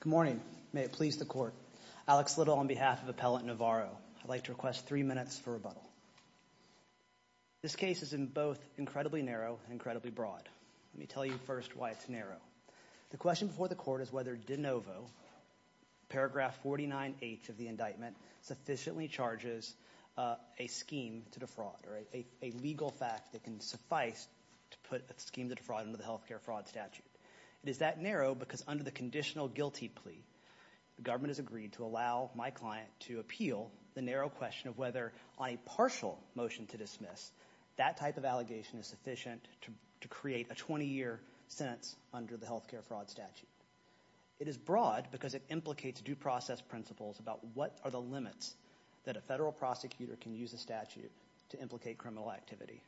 Good morning. May it please the court. Alex Little on behalf of Appellant Navarro. I'd like to request three minutes for rebuttal. This case is in both incredibly narrow and incredibly broad. Let me tell you first why it's narrow. The question before the court is whether de novo, paragraph 49H of the indictment, sufficiently charges a scheme to defraud or a legal fact that can suffice to put a scheme to defraud under the healthcare fraud statute. It is that narrow because under the conditional guilty plea, the government has agreed to allow my client to appeal the narrow question of whether on a partial motion to dismiss, that type of allegation is sufficient to create a 20-year sentence under the healthcare fraud statute. It is broad because it implicates due process principles about what are the to allege criminal activity.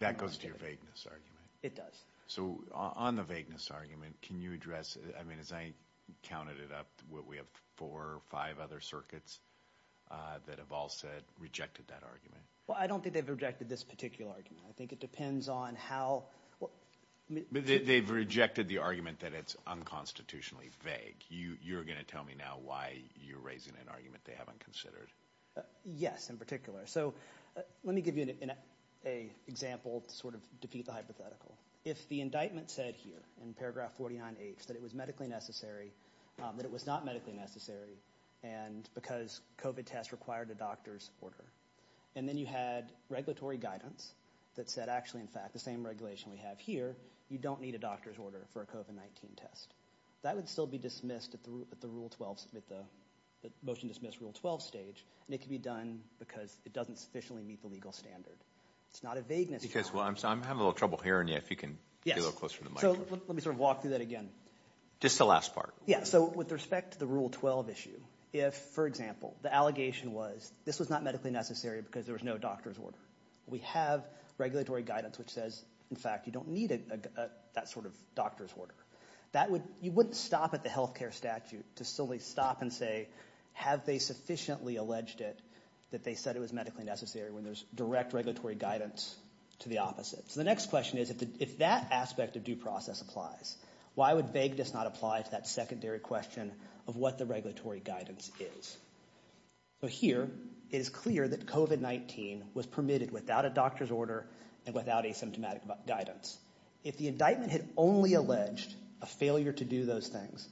That goes to your vagueness argument. It does. So on the vagueness argument, can you address, I mean as I counted it up, we have four or five other circuits that have all said, rejected that argument. Well I don't think they've rejected this particular argument. I think it depends on how... They've rejected the argument that it's unconstitutionally vague. You're going to tell me now why you're raising an argument that they haven't considered. Yes, in particular. So let me give you an example to sort of defeat the hypothetical. If the indictment said here in paragraph 49H that it was medically necessary, that it was not medically necessary, and because COVID tests required a doctor's order, and then you had regulatory guidance that said actually in fact the same regulation we have here, you don't need a doctor's order for a COVID-19 test. That would still be dismissed at the rule 12, at the motion dismissed rule 12 stage, and it could be done because it doesn't sufficiently meet the legal standard. It's not a vagueness argument. I'm having a little trouble hearing you, if you can get a little closer to the mic. Yes, so let me sort of walk through that again. Just the last part. Yes, so with respect to the rule 12 issue, if for example the allegation was this was not medically necessary because there was no doctor's order. We have regulatory guidance which says in fact you don't need that sort of doctor's order. You wouldn't stop at the health care statute to silly stop and say have they sufficiently alleged it that they said it was medically necessary when there's direct regulatory guidance to the opposite. So the next question is if that aspect of due process applies, why would vague does not apply to that secondary question of what the regulatory guidance is? So here it is clear that COVID-19 was permitted without a doctor's order and without asymptomatic guidance. If the indictment had only alleged a failure to do those things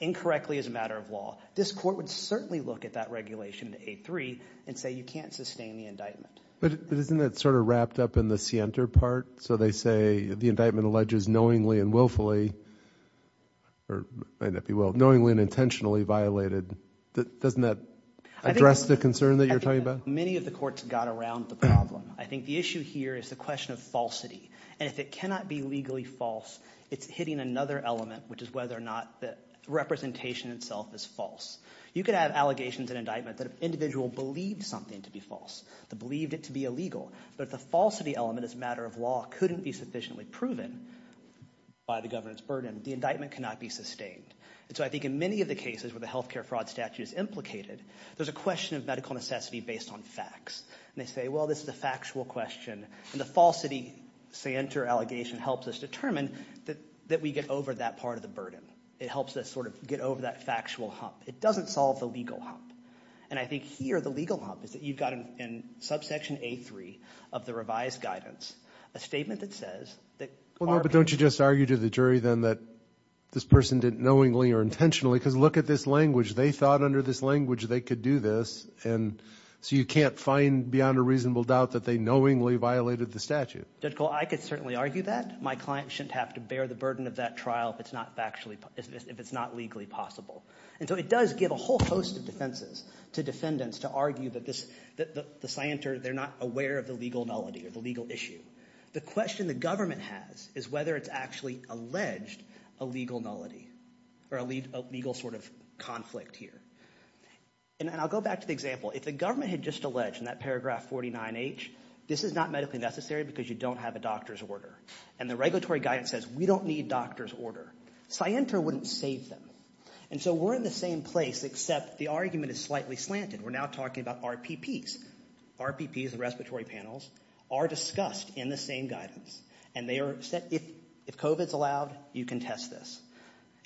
incorrectly as a matter of law, this court would certainly look at that regulation to A3 and say you can't sustain the indictment. But isn't that sort of wrapped up in the scienter part? So they say the indictment alleges knowingly and willfully, or may not be will, knowingly and intentionally violated. Doesn't that address the concern that you're talking about? Many of the courts got around the problem. I think the issue here is the question of falsity. And if it cannot be legally false, it's hitting another element, which is whether or not the representation itself is false. You could have allegations and indictments that an individual believed something to be false. They believed it to be illegal. But if the falsity element as a matter of law couldn't be sufficiently proven by the government's burden, the indictment cannot be sustained. So I think in many of the cases where the health care fraud statute is implicated, there's a question of medical necessity based on facts. And they say, well, this is a factual question. And the falsity scienter allegation helps us determine that we get over that part of the burden. It helps us sort of get over that factual hump. It doesn't solve the legal hump. And I think here the legal hump is that you've got in subsection A3 of the revised guidance a statement that says that... Well, no, but don't you just argue to the jury then that this person did it knowingly or intentionally? Because look at this language. They thought under this language they could do this. And so you can't find beyond a reasonable doubt that they knowingly violated the statute. Judge Cole, I could certainly argue that. My client shouldn't have to bear the burden of that trial if it's not legally possible. And so it does give a whole host of defenses to defendants to argue that the scienter, they're not aware of the legal nullity or the legal issue. The question the government has is whether it's actually alleged a legal nullity or a legal sort of conflict here. And I'll go back to the example. If the government had just alleged in that paragraph 49H, this is not medically necessary because you don't have a doctor's order. And the regulatory guidance says we don't need doctor's order. Scienter wouldn't save them. And so we're in the same place except the argument is slightly slanted. We're now talking about RPPs. RPPs, the respiratory panels, are discussed in the same guidance. And they are said, if COVID's allowed, you can test this.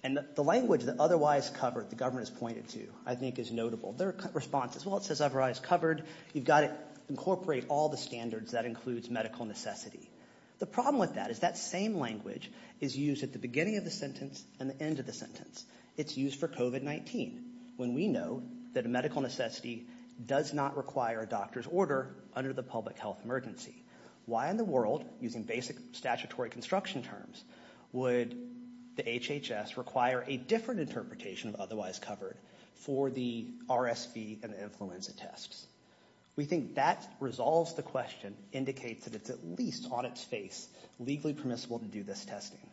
And the language that otherwise covered, the government has pointed to, I think is notable. Their response is, well, it says otherwise covered. You've got to incorporate all the standards that includes medical necessity. The problem with that is that same language is used at the beginning of the sentence and the end of the sentence. It's used for COVID-19 when we know that a medical necessity does not require a doctor's order under the public health emergency. Why in the world, using basic statutory construction terms, would the HHS require a different interpretation of otherwise covered for the RSV and influenza tests? We think that resolves the question, indicates that it's at least on its face legally permissible to do this testing.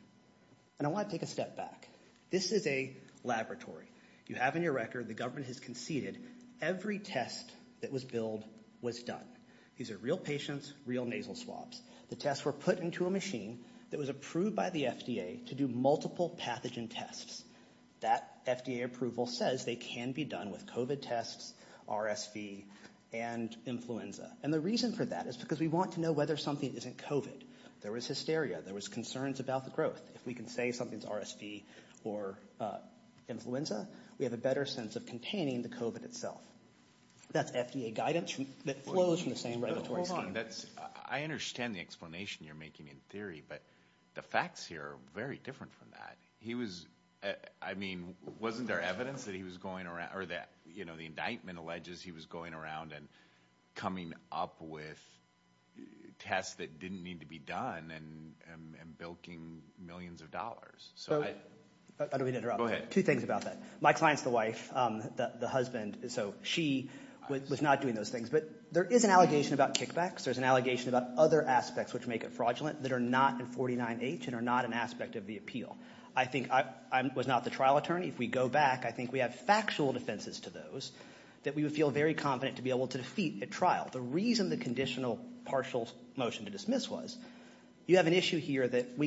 And I want to take a step back. This is a laboratory. You have in your record, the government has conceded every test that was billed was done. These are real patients, real nasal swabs. The tests were put into a machine that was approved by the FDA to do multiple pathogen tests. That FDA approval says they can be done with COVID tests, RSV, and influenza. And the reason for that is because we want to know whether something isn't COVID. There was hysteria. There was concerns about the growth. If we can say something's RSV or influenza, we have a better sense of containing the COVID itself. That's FDA guidance that flows from the same regulatory scheme. Hold on. I understand the explanation you're making in theory, but the facts here are very different from that. He was, I mean, wasn't there evidence that he was going around or that, you know, the indictment alleges he was going around and coming up with tests that didn't need to be done and bilking millions of dollars. Two things about that. Mike Klein's the wife, the husband, so she was not doing those things. But there is an allegation about kickbacks. There's an allegation about other aspects which make it fraudulent that are not in 49H and are not an aspect of the appeal. I think I was not the trial attorney. If we go back, I think we have factual defenses to those that we would feel very confident to be able to defeat at trial. The reason the conditional partial motion to dismiss was, you have an allegation that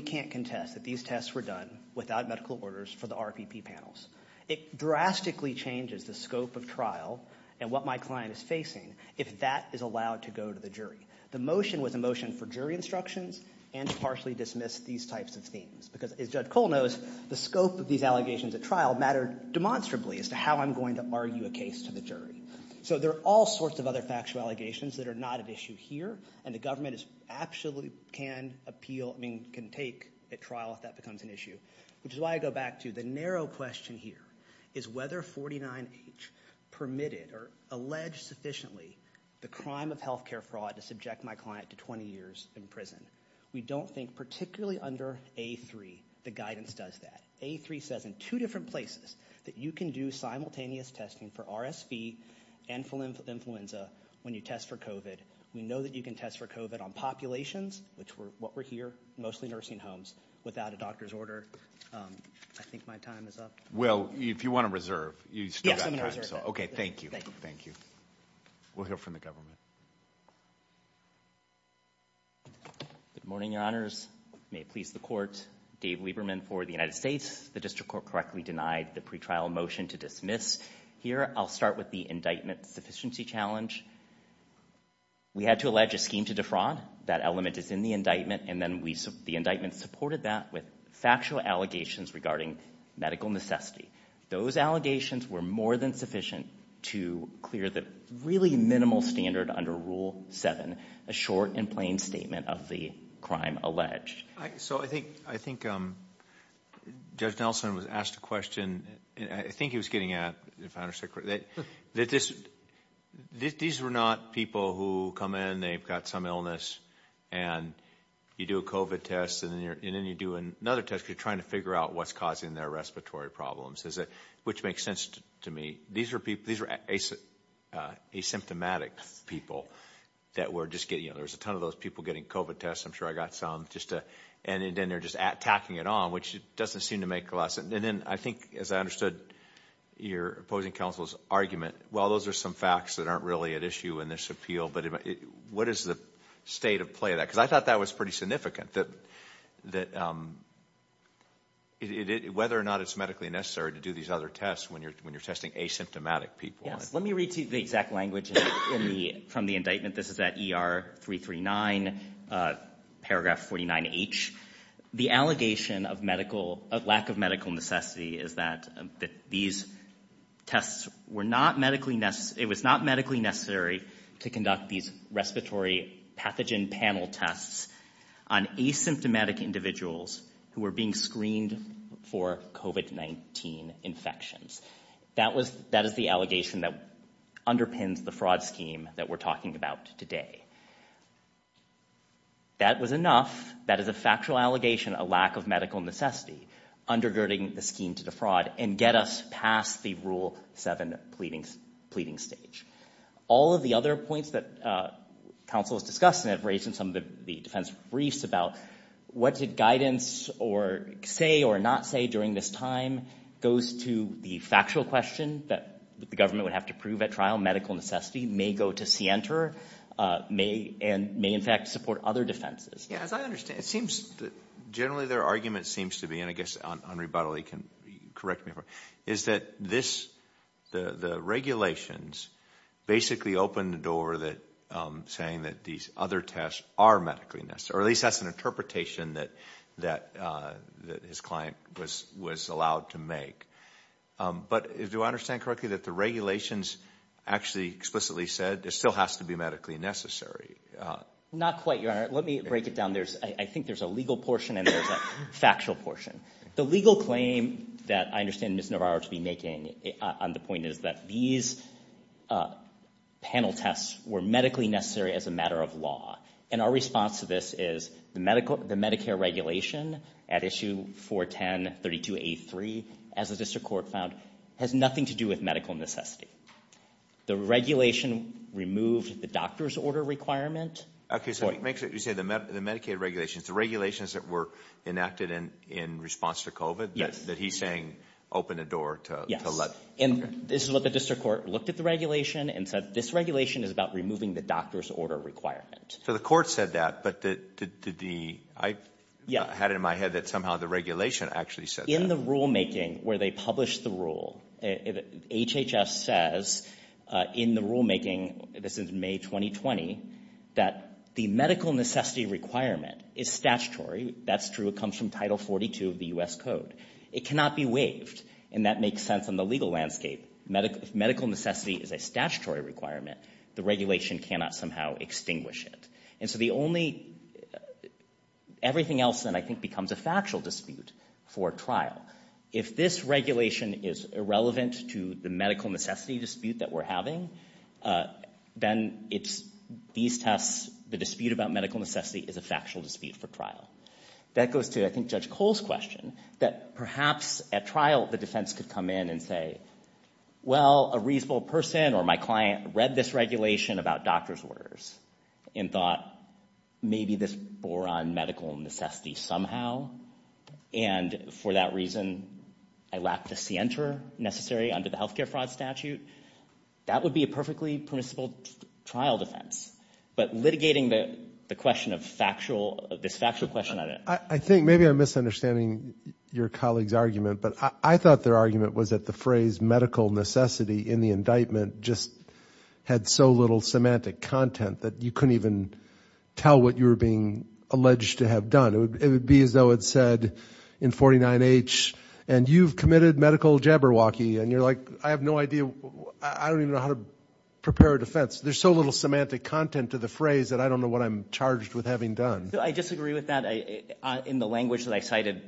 the tests were done without medical orders for the RPP panels. It drastically changes the scope of trial and what my client is facing if that is allowed to go to the jury. The motion was a motion for jury instructions and to partially dismiss these types of things. Because as Judge Cole knows, the scope of these allegations at trial mattered demonstrably as to how I'm going to argue a case to the jury. So there are all sorts of other factual allegations that are not an issue here, and the government actually can appeal, I mean, can take at trial if that becomes an issue. Which is why I go back to the narrow question here. Is whether 49H permitted or alleged sufficiently the crime of healthcare fraud to subject my client to 20 years in prison? We don't think particularly under A3 the guidance does that. A3 says in two different places that you can do simultaneous testing for RSV and for influenza when you test for COVID. We know that you can test for COVID on populations, what we're here, mostly nursing homes, without a doctor's order. I think my time is up. Well, if you want to reserve, you still have time. Okay, thank you. Thank you. We'll hear from the government. Good morning, Your Honors. May it please the Court. Dave Lieberman for the United States. The District Court correctly denied the pretrial motion to dismiss. Here, I'll start with the indictment sufficiency challenge. We had to allege a scheme to defraud. That element is in the indictment, and then the indictment supported that with factual allegations regarding medical necessity. Those allegations were more than sufficient to clear the really minimal standard under Rule 7, a short and plain statement of the crime alleged. So I think Judge Nelson was asked a question, and I think he was getting at, if I understand correctly, that these were not people who come in, they've got some illness, and you do a COVID test, and then you do another test because you're trying to figure out what's causing their respiratory problems, which makes sense to me. These are asymptomatic people that were just getting, you know, there's a ton of those people getting COVID tests. I'm sure I got some. And then they're just tacking it on, which doesn't seem to make a lot of sense. And then I think, as I understood your opposing counsel's argument, while those are some facts that aren't really at issue in this appeal, but what is the state of play of that? Because I thought that was pretty significant, that whether or not it's medically necessary to do these other tests when you're testing asymptomatic people. Yes, let me read to you the exact language from the indictment. This is at ER 339, paragraph 49H. The allegation of lack of medical necessity is that these tests were not medically necessary, it was not medically necessary to conduct these respiratory pathogen panel tests on asymptomatic individuals who were being screened for COVID-19 infections. That is the allegation that underpins the fraud scheme that we're talking about today. That was enough. That is a factual allegation, a lack of medical necessity, undergirding the scheme to defraud and get us past the Rule 7 pleading stage. All of the other points that counsel has discussed and have raised in some of the defense briefs about what did guidance say or not say during this time goes to the factual question that the government would have to prove at trial. Medical necessity may go to Sienter and may, in fact, support other defenses. Yeah, as I understand it, generally their argument seems to be, and I guess Henri Buddley can correct me if I'm wrong, is that the regulations basically open the door saying that these other tests are medically necessary, or at least that's an interpretation that his client was allowed to make. But do I understand correctly that the regulations actually explicitly said it still has to be medically necessary? Not quite, Your Honor. Let me break it down. I think there's a legal portion and there's a factual portion. The legal claim that I understand Ms. Navarro to be making on the point is that these panel tests were medically necessary as a matter of law. And our response to this is the Medicare regulation at issue 410.32.83, as the district court found, has nothing to do with medical necessity. The regulation removed the doctor's order requirement. Okay, so it makes it, you say the Medicaid regulations, the regulations that were enacted in response to COVID that he's saying open the door to let... Yes. And this is what the district court looked at the regulation and said this regulation is about removing the doctor's order requirement. So the court said that, but did the... I had it in my head that somehow the regulation actually said that. In the rulemaking where they published the rule, HHS says in the rulemaking, this is May 2020, that the medical necessity requirement is statutory. That's true. It comes from Title 42 of the U.S. Code. It cannot be waived. And that makes sense on the legal landscape. If medical necessity is a statutory requirement, the regulation cannot somehow extinguish it. And so the only... Everything else then I think becomes a factual dispute for trial. If this regulation is irrelevant to the medical necessity dispute that we're having, then these tests, the dispute about medical necessity is a factual dispute for trial. That goes to, I think, Judge Cole's question, that perhaps at trial the defense could come in and say, well, a reasonable person or my client read this regulation about doctor's orders and thought maybe this bore on medical necessity somehow. And for that reason, I lack the scienter necessary under the healthcare fraud statute. That would be a perfectly permissible trial defense. But litigating the question of factual... This factual question... I think maybe I'm misunderstanding your colleague's argument, but I thought their argument was that the phrase medical necessity in the indictment just had so little semantic content that you couldn't even tell what you were being alleged to have done. It would be as though it said in 49H, and you've committed medical jabberwocky. And you're like, I have no idea. I don't even know how to prepare a defense. There's so little semantic content to the phrase that I don't know what I'm charged with having done. I disagree with that. In the language that I cited,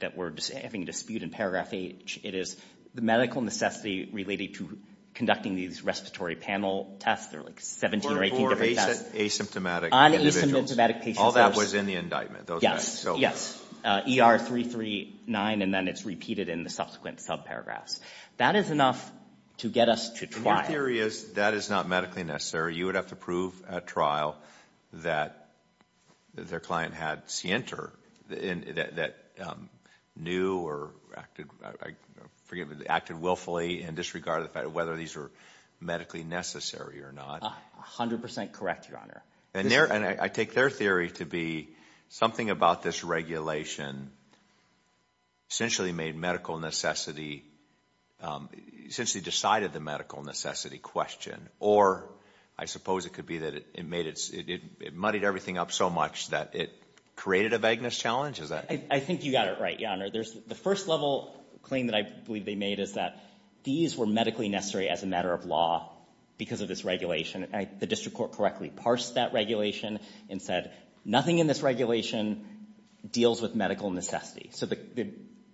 that we're having a dispute in paragraph eight, it is the medical necessity related to conducting these respiratory panel tests. There are like 17 or 18 different tests. For asymptomatic individuals. On asymptomatic patients. All that was in the indictment. Those facts. Yes. ER 339, and then it's repeated in the subsequent subparagraphs. That is enough to get us to trial. And your theory is that is not medically necessary. You would have to prove at trial that their client had scienter that knew or acted willfully and disregarded the fact of whether these were medically necessary or not. A hundred percent correct, your honor. And I take their theory to be something about this regulation essentially made medical necessity, essentially decided the medical necessity question. Or I suppose it could be that it muddied everything up so much that it created a vagueness challenge. I think you got it right, your honor. The first level claim that I believe they made is that these were medically necessary as a matter of law because of this regulation. The district court correctly parsed that regulation and said nothing in this regulation deals with medical necessity. So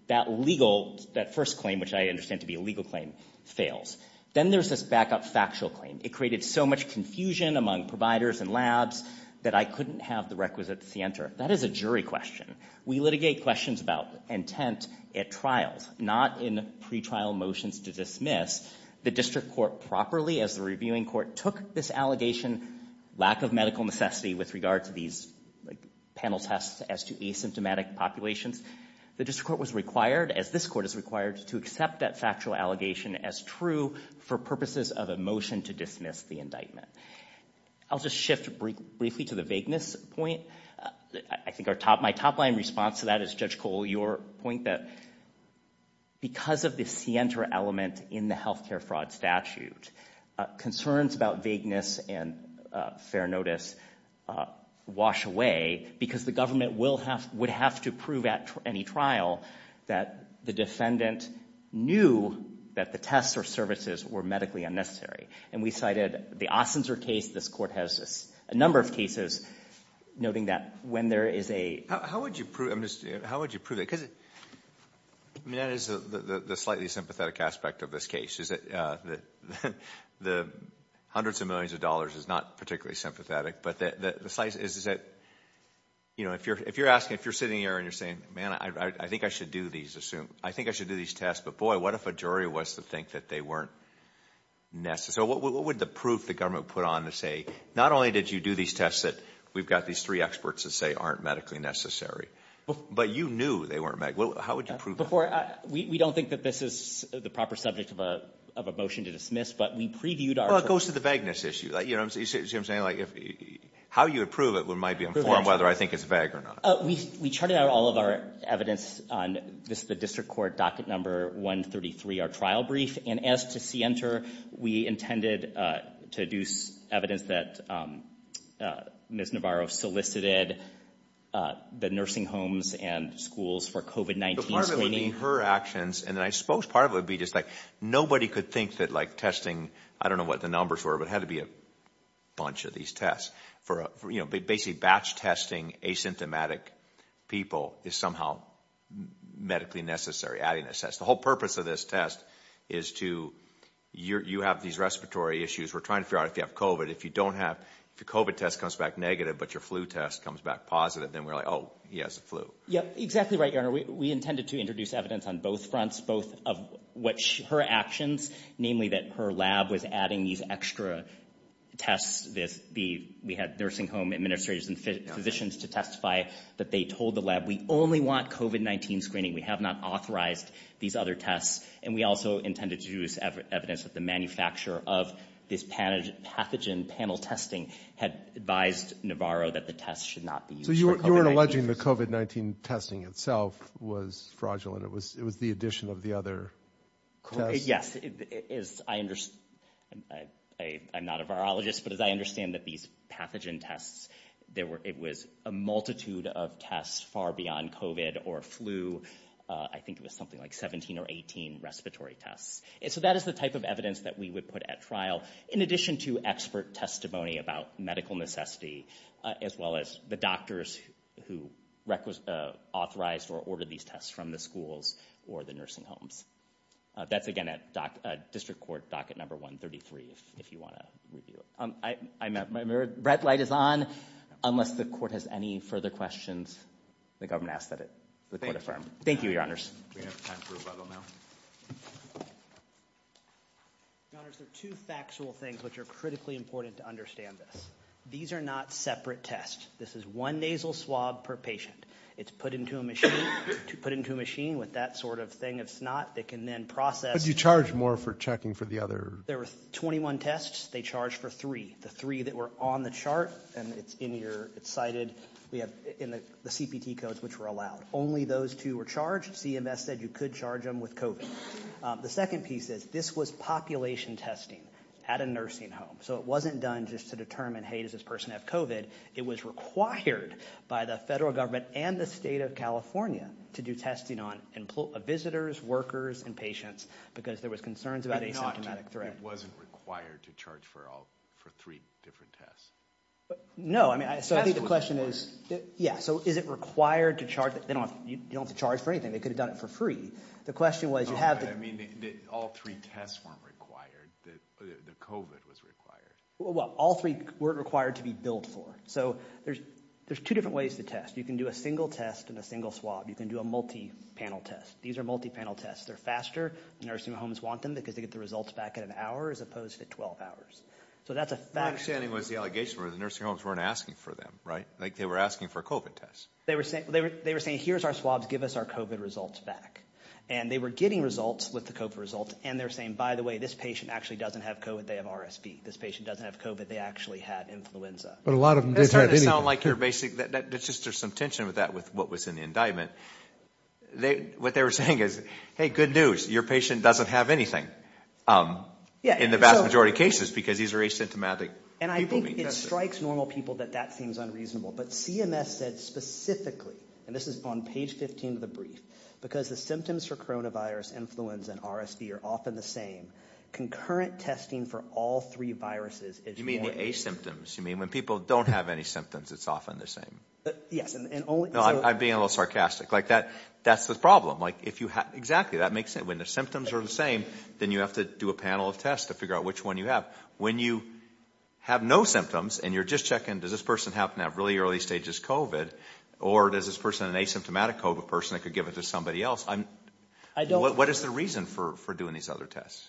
that legal, that first claim, which I understand to be a legal claim, fails. Then there's this backup factual claim. It created so much confusion among providers and labs that I couldn't have the requisites to answer. That is a jury question. We litigate questions about intent at trials, not in pretrial motions to dismiss. The district court properly, as the reviewing court, took this allegation, lack of medical necessity with regard to these panel tests as to asymptomatic populations. The district court was required, as this court is required, to accept that factual allegation as true for purposes of a motion to dismiss the indictment. I'll just shift briefly to the vagueness point. I think my top line response to that is, Judge Cole, your point that because of the scienter element in the health care fraud statute, concerns about vagueness and fair notice wash away because the government would have to prove at any trial that the defendant knew that the tests or services were medically unnecessary. We cited the Ostenser case. This court has a number of cases noting that when there is a... How would you prove it? That is the slightly sympathetic aspect of this case, is that the hundreds of millions of dollars is not particularly sympathetic. If you're sitting here and you're saying, man, I think I should do these tests, but boy, what if a jury was to think that they weren't necessary? What would the proof the government put on to say, not only did you do these tests that we've got these three experts that say aren't medically necessary, but you knew they weren't medical. How would you prove that? We don't think that this is the proper subject of a motion to dismiss, but we previewed our... It goes to the vagueness issue. You see what I'm saying? How you would prove it might be whether I think it's vague or not. We charted out all of our evidence on the district court docket number 133, our trial brief, and as to see enter, we intended to do evidence that Ms. Navarro solicited the nursing homes and schools for COVID-19 screening. Part of it would be her actions, and I suppose part of it would be just like nobody could think that testing, I don't know what the numbers were, but it had to be a bunch of these tests. Basically, batch testing asymptomatic people is somehow medically necessary, adding a test. The whole purpose of this test is to... You have these respiratory issues. We're trying to figure out if you have COVID. If you don't have... If your COVID test comes back negative, but your flu test comes back positive, then we're like, oh, he has the Yeah, exactly right, Your Honor. We intended to introduce evidence on both fronts, both of what her actions, namely that her lab was adding these extra tests. We had nursing home administrators and physicians to testify that they told the lab, we only want COVID-19 screening. We have not authorized these other tests, and we also intended to use evidence that the manufacturer of this pathogen panel testing had advised Navarro that the tests should not be used for COVID-19. So you weren't alleging the COVID-19 testing itself was fraudulent. It was the addition of the other tests? Yes. I'm not a virologist, but as I understand that these pathogen tests, it was a multitude of tests far beyond COVID or flu. I think it was something like 17 or 18 respiratory tests. So that is the type of evidence that we would put at trial, in addition to expert testimony about medical necessity, as well as the doctors who authorized or ordered these tests from the schools or the nursing homes. That's again at District Court Docket Number 133, if you want to review it. My red light is on. Unless the court has any further questions, the government asks that it be confirmed. Thank you, Your Honors. We have time for a rebuttal now. Your Honors, there are two factual things which are critically important to understand this. These are not separate tests. This is one nasal swab per patient. It's put into a machine with that sort of thing of snot. They can then process. But you charge more for checking for the other? There were 21 tests. They charged for three. The three that were on the chart, and it's in your, it's cited in the CPT codes which were allowed. Only those two were charged. CMS said you could charge them with COVID. The second piece is this was population testing at a nursing home. So it wasn't done just to determine, hey, does this person have COVID? It was required by the federal government and the state of California to do testing on visitors, workers, and patients because there was concerns about asymptomatic threat. It wasn't required to charge for all, for three different tests? No, I mean, so I think the question is, yeah, so is it required to charge? You don't have to charge for anything. They could have done it for free. The question was, you have to I mean, all three tests weren't required. The COVID was required. Well, all three weren't required to be billed for. So there's two different ways to test. You can do a single test and a single swab. You can do a multi-panel test. These are multi-panel tests. They're faster. Nursing homes want them because they get the results back in an hour as opposed to 12 hours. So that's a fact. My understanding was the allegation was the nursing homes weren't asking for them, right? Like they were asking for COVID tests. They were saying, here's our swabs. Give us our COVID results back. And they were getting results with the COVID results. And they're saying, by the way, this patient actually doesn't have COVID. They have RSV. This patient doesn't have COVID. They actually had influenza. But a lot of them didn't have anything. It's hard to sound like you're basic. There's just some tension with that with what was in the indictment. What they were saying is, hey, good news. Your patient doesn't have anything in the vast majority of cases because these are asymptomatic people being tested. And I think it strikes normal people that that seems unreasonable. But CMS said specifically, and this is on page 15 of the brief, because the symptoms for coronavirus, influenza, and concurrent testing for all three viruses. You mean the asymptoms? You mean when people don't have any symptoms, it's often the same? Yes. I'm being a little sarcastic. That's the problem. Exactly. That makes sense. When the symptoms are the same, then you have to do a panel of tests to figure out which one you have. When you have no symptoms and you're just checking, does this person happen to have really early stages of COVID? Or does this person have an asymptomatic COVID person that could give it to somebody else? What is the reason for doing these other tests?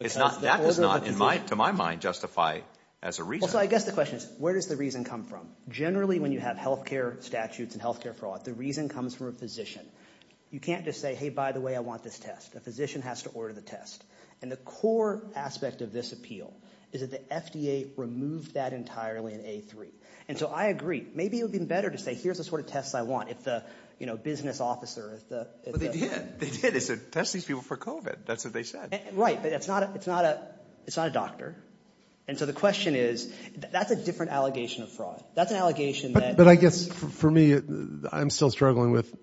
That does not, to my mind, justify as a reason. Well, so I guess the question is, where does the reason come from? Generally, when you have health care statutes and health care fraud, the reason comes from a physician. You can't just say, hey, by the way, I want this test. A physician has to order the test. And the core aspect of this appeal is that the FDA removed that entirely in A3. And so I agree. Maybe it would be better to say, here's the sort of tests I want if the business officer... Well, they did. They did. They said test these people for COVID. That's what they said. Right. But it's not a doctor. And so the question is, that's a different allegation of fraud. That's an allegation that... But I guess for me, I'm still struggling with,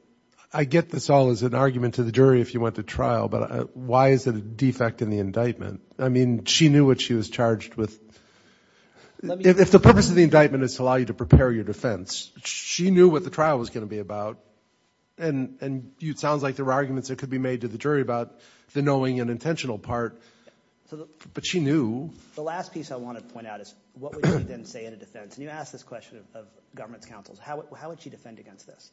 I get this all as an argument to the jury if you went to trial, but why is it a defect in the indictment? I mean, she knew what she was charged with. If the purpose of the indictment is to allow you to prepare your defense, she knew what the trial was going to be about. And it sounds like there are arguments that could be made to the jury about the knowing and intentional part, but she knew. The last piece I want to point out is, what would she then say in a defense? And you asked this question of government's counsels. How would she defend against this?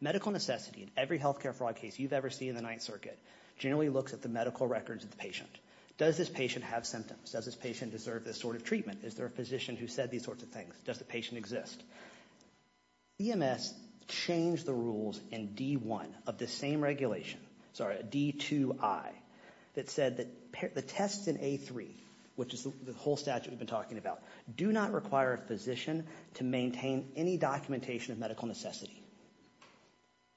Medical necessity in every health care fraud case you've ever seen in the Ninth Circuit generally looks at the medical records of the patient. Does this patient have symptoms? Does this patient deserve this sort of treatment? Is there a physician who said these sorts of things? Does the patient exist? EMS changed the rules in D1 of the same regulation, sorry, D2I, that said that the tests in A3, which is the whole statute we've been talking about, do not require a physician to maintain any documentation of medical necessity.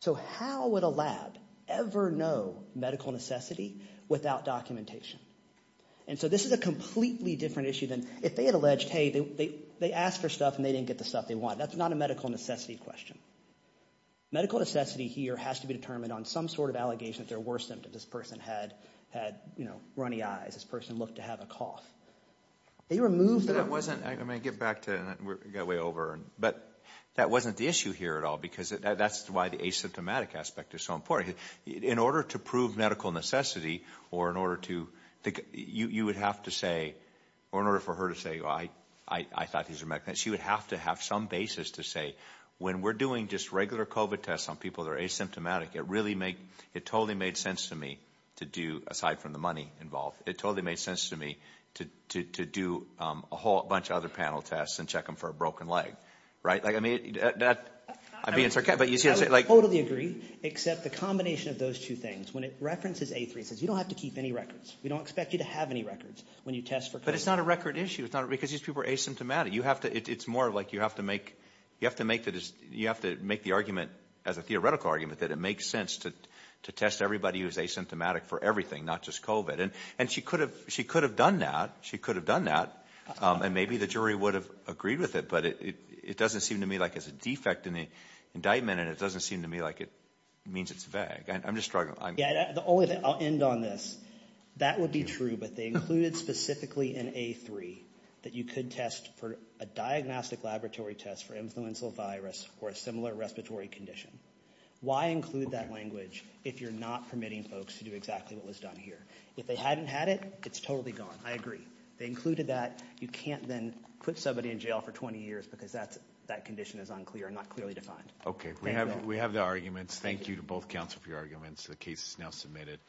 So how would a lab ever know medical necessity without documentation? And so this is a completely different issue than if they had alleged, hey, they asked for stuff and they didn't get the stuff they wanted. That's not a medical necessity question. Medical necessity here has to be determined on some sort of allegation that there were symptoms. This person had runny eyes. This person looked to have a cough. They removed the... But that wasn't, let me get back to, we got way over, but that wasn't the issue here at all because that's why the asymptomatic aspect is so important. In order to prove medical necessity or in order to, you would have to say, or in order for her to say, well, I thought these are medical, she would have to have some basis to say when we're doing just regular COVID tests on people that are asymptomatic, it totally made sense to me to do, aside from the money involved, it totally made sense to me to do a whole bunch of other panel tests and check them for a broken leg, right? I would totally agree, except the combination of those two things. When it references A3, it says you don't have to keep any records. We don't expect you to have any records when you test for COVID. But it's not a record issue because these people are asymptomatic. It's more like you have to make the argument as a theoretical argument that it makes sense to test everybody who is asymptomatic for everything, not just COVID. And she could have done that. She could have done that, and maybe the jury would have agreed with it, but it doesn't seem to me like it's a defect in the indictment, and it doesn't seem to me like it means it's vague. I'm just struggling. I'll end on this. That would be true, but they included specifically in A3 that you could test for a diagnostic laboratory test for influenza virus or a similar respiratory condition. Why include that language if you're not permitting folks to do exactly what was done here? If they hadn't had it, it's totally gone. I agree. They included that. You can't then put somebody in jail for 20 years because that condition is unclear and not clearly defined. Okay. We have the arguments. Thank you to both counsel for your arguments. The case is now submitted.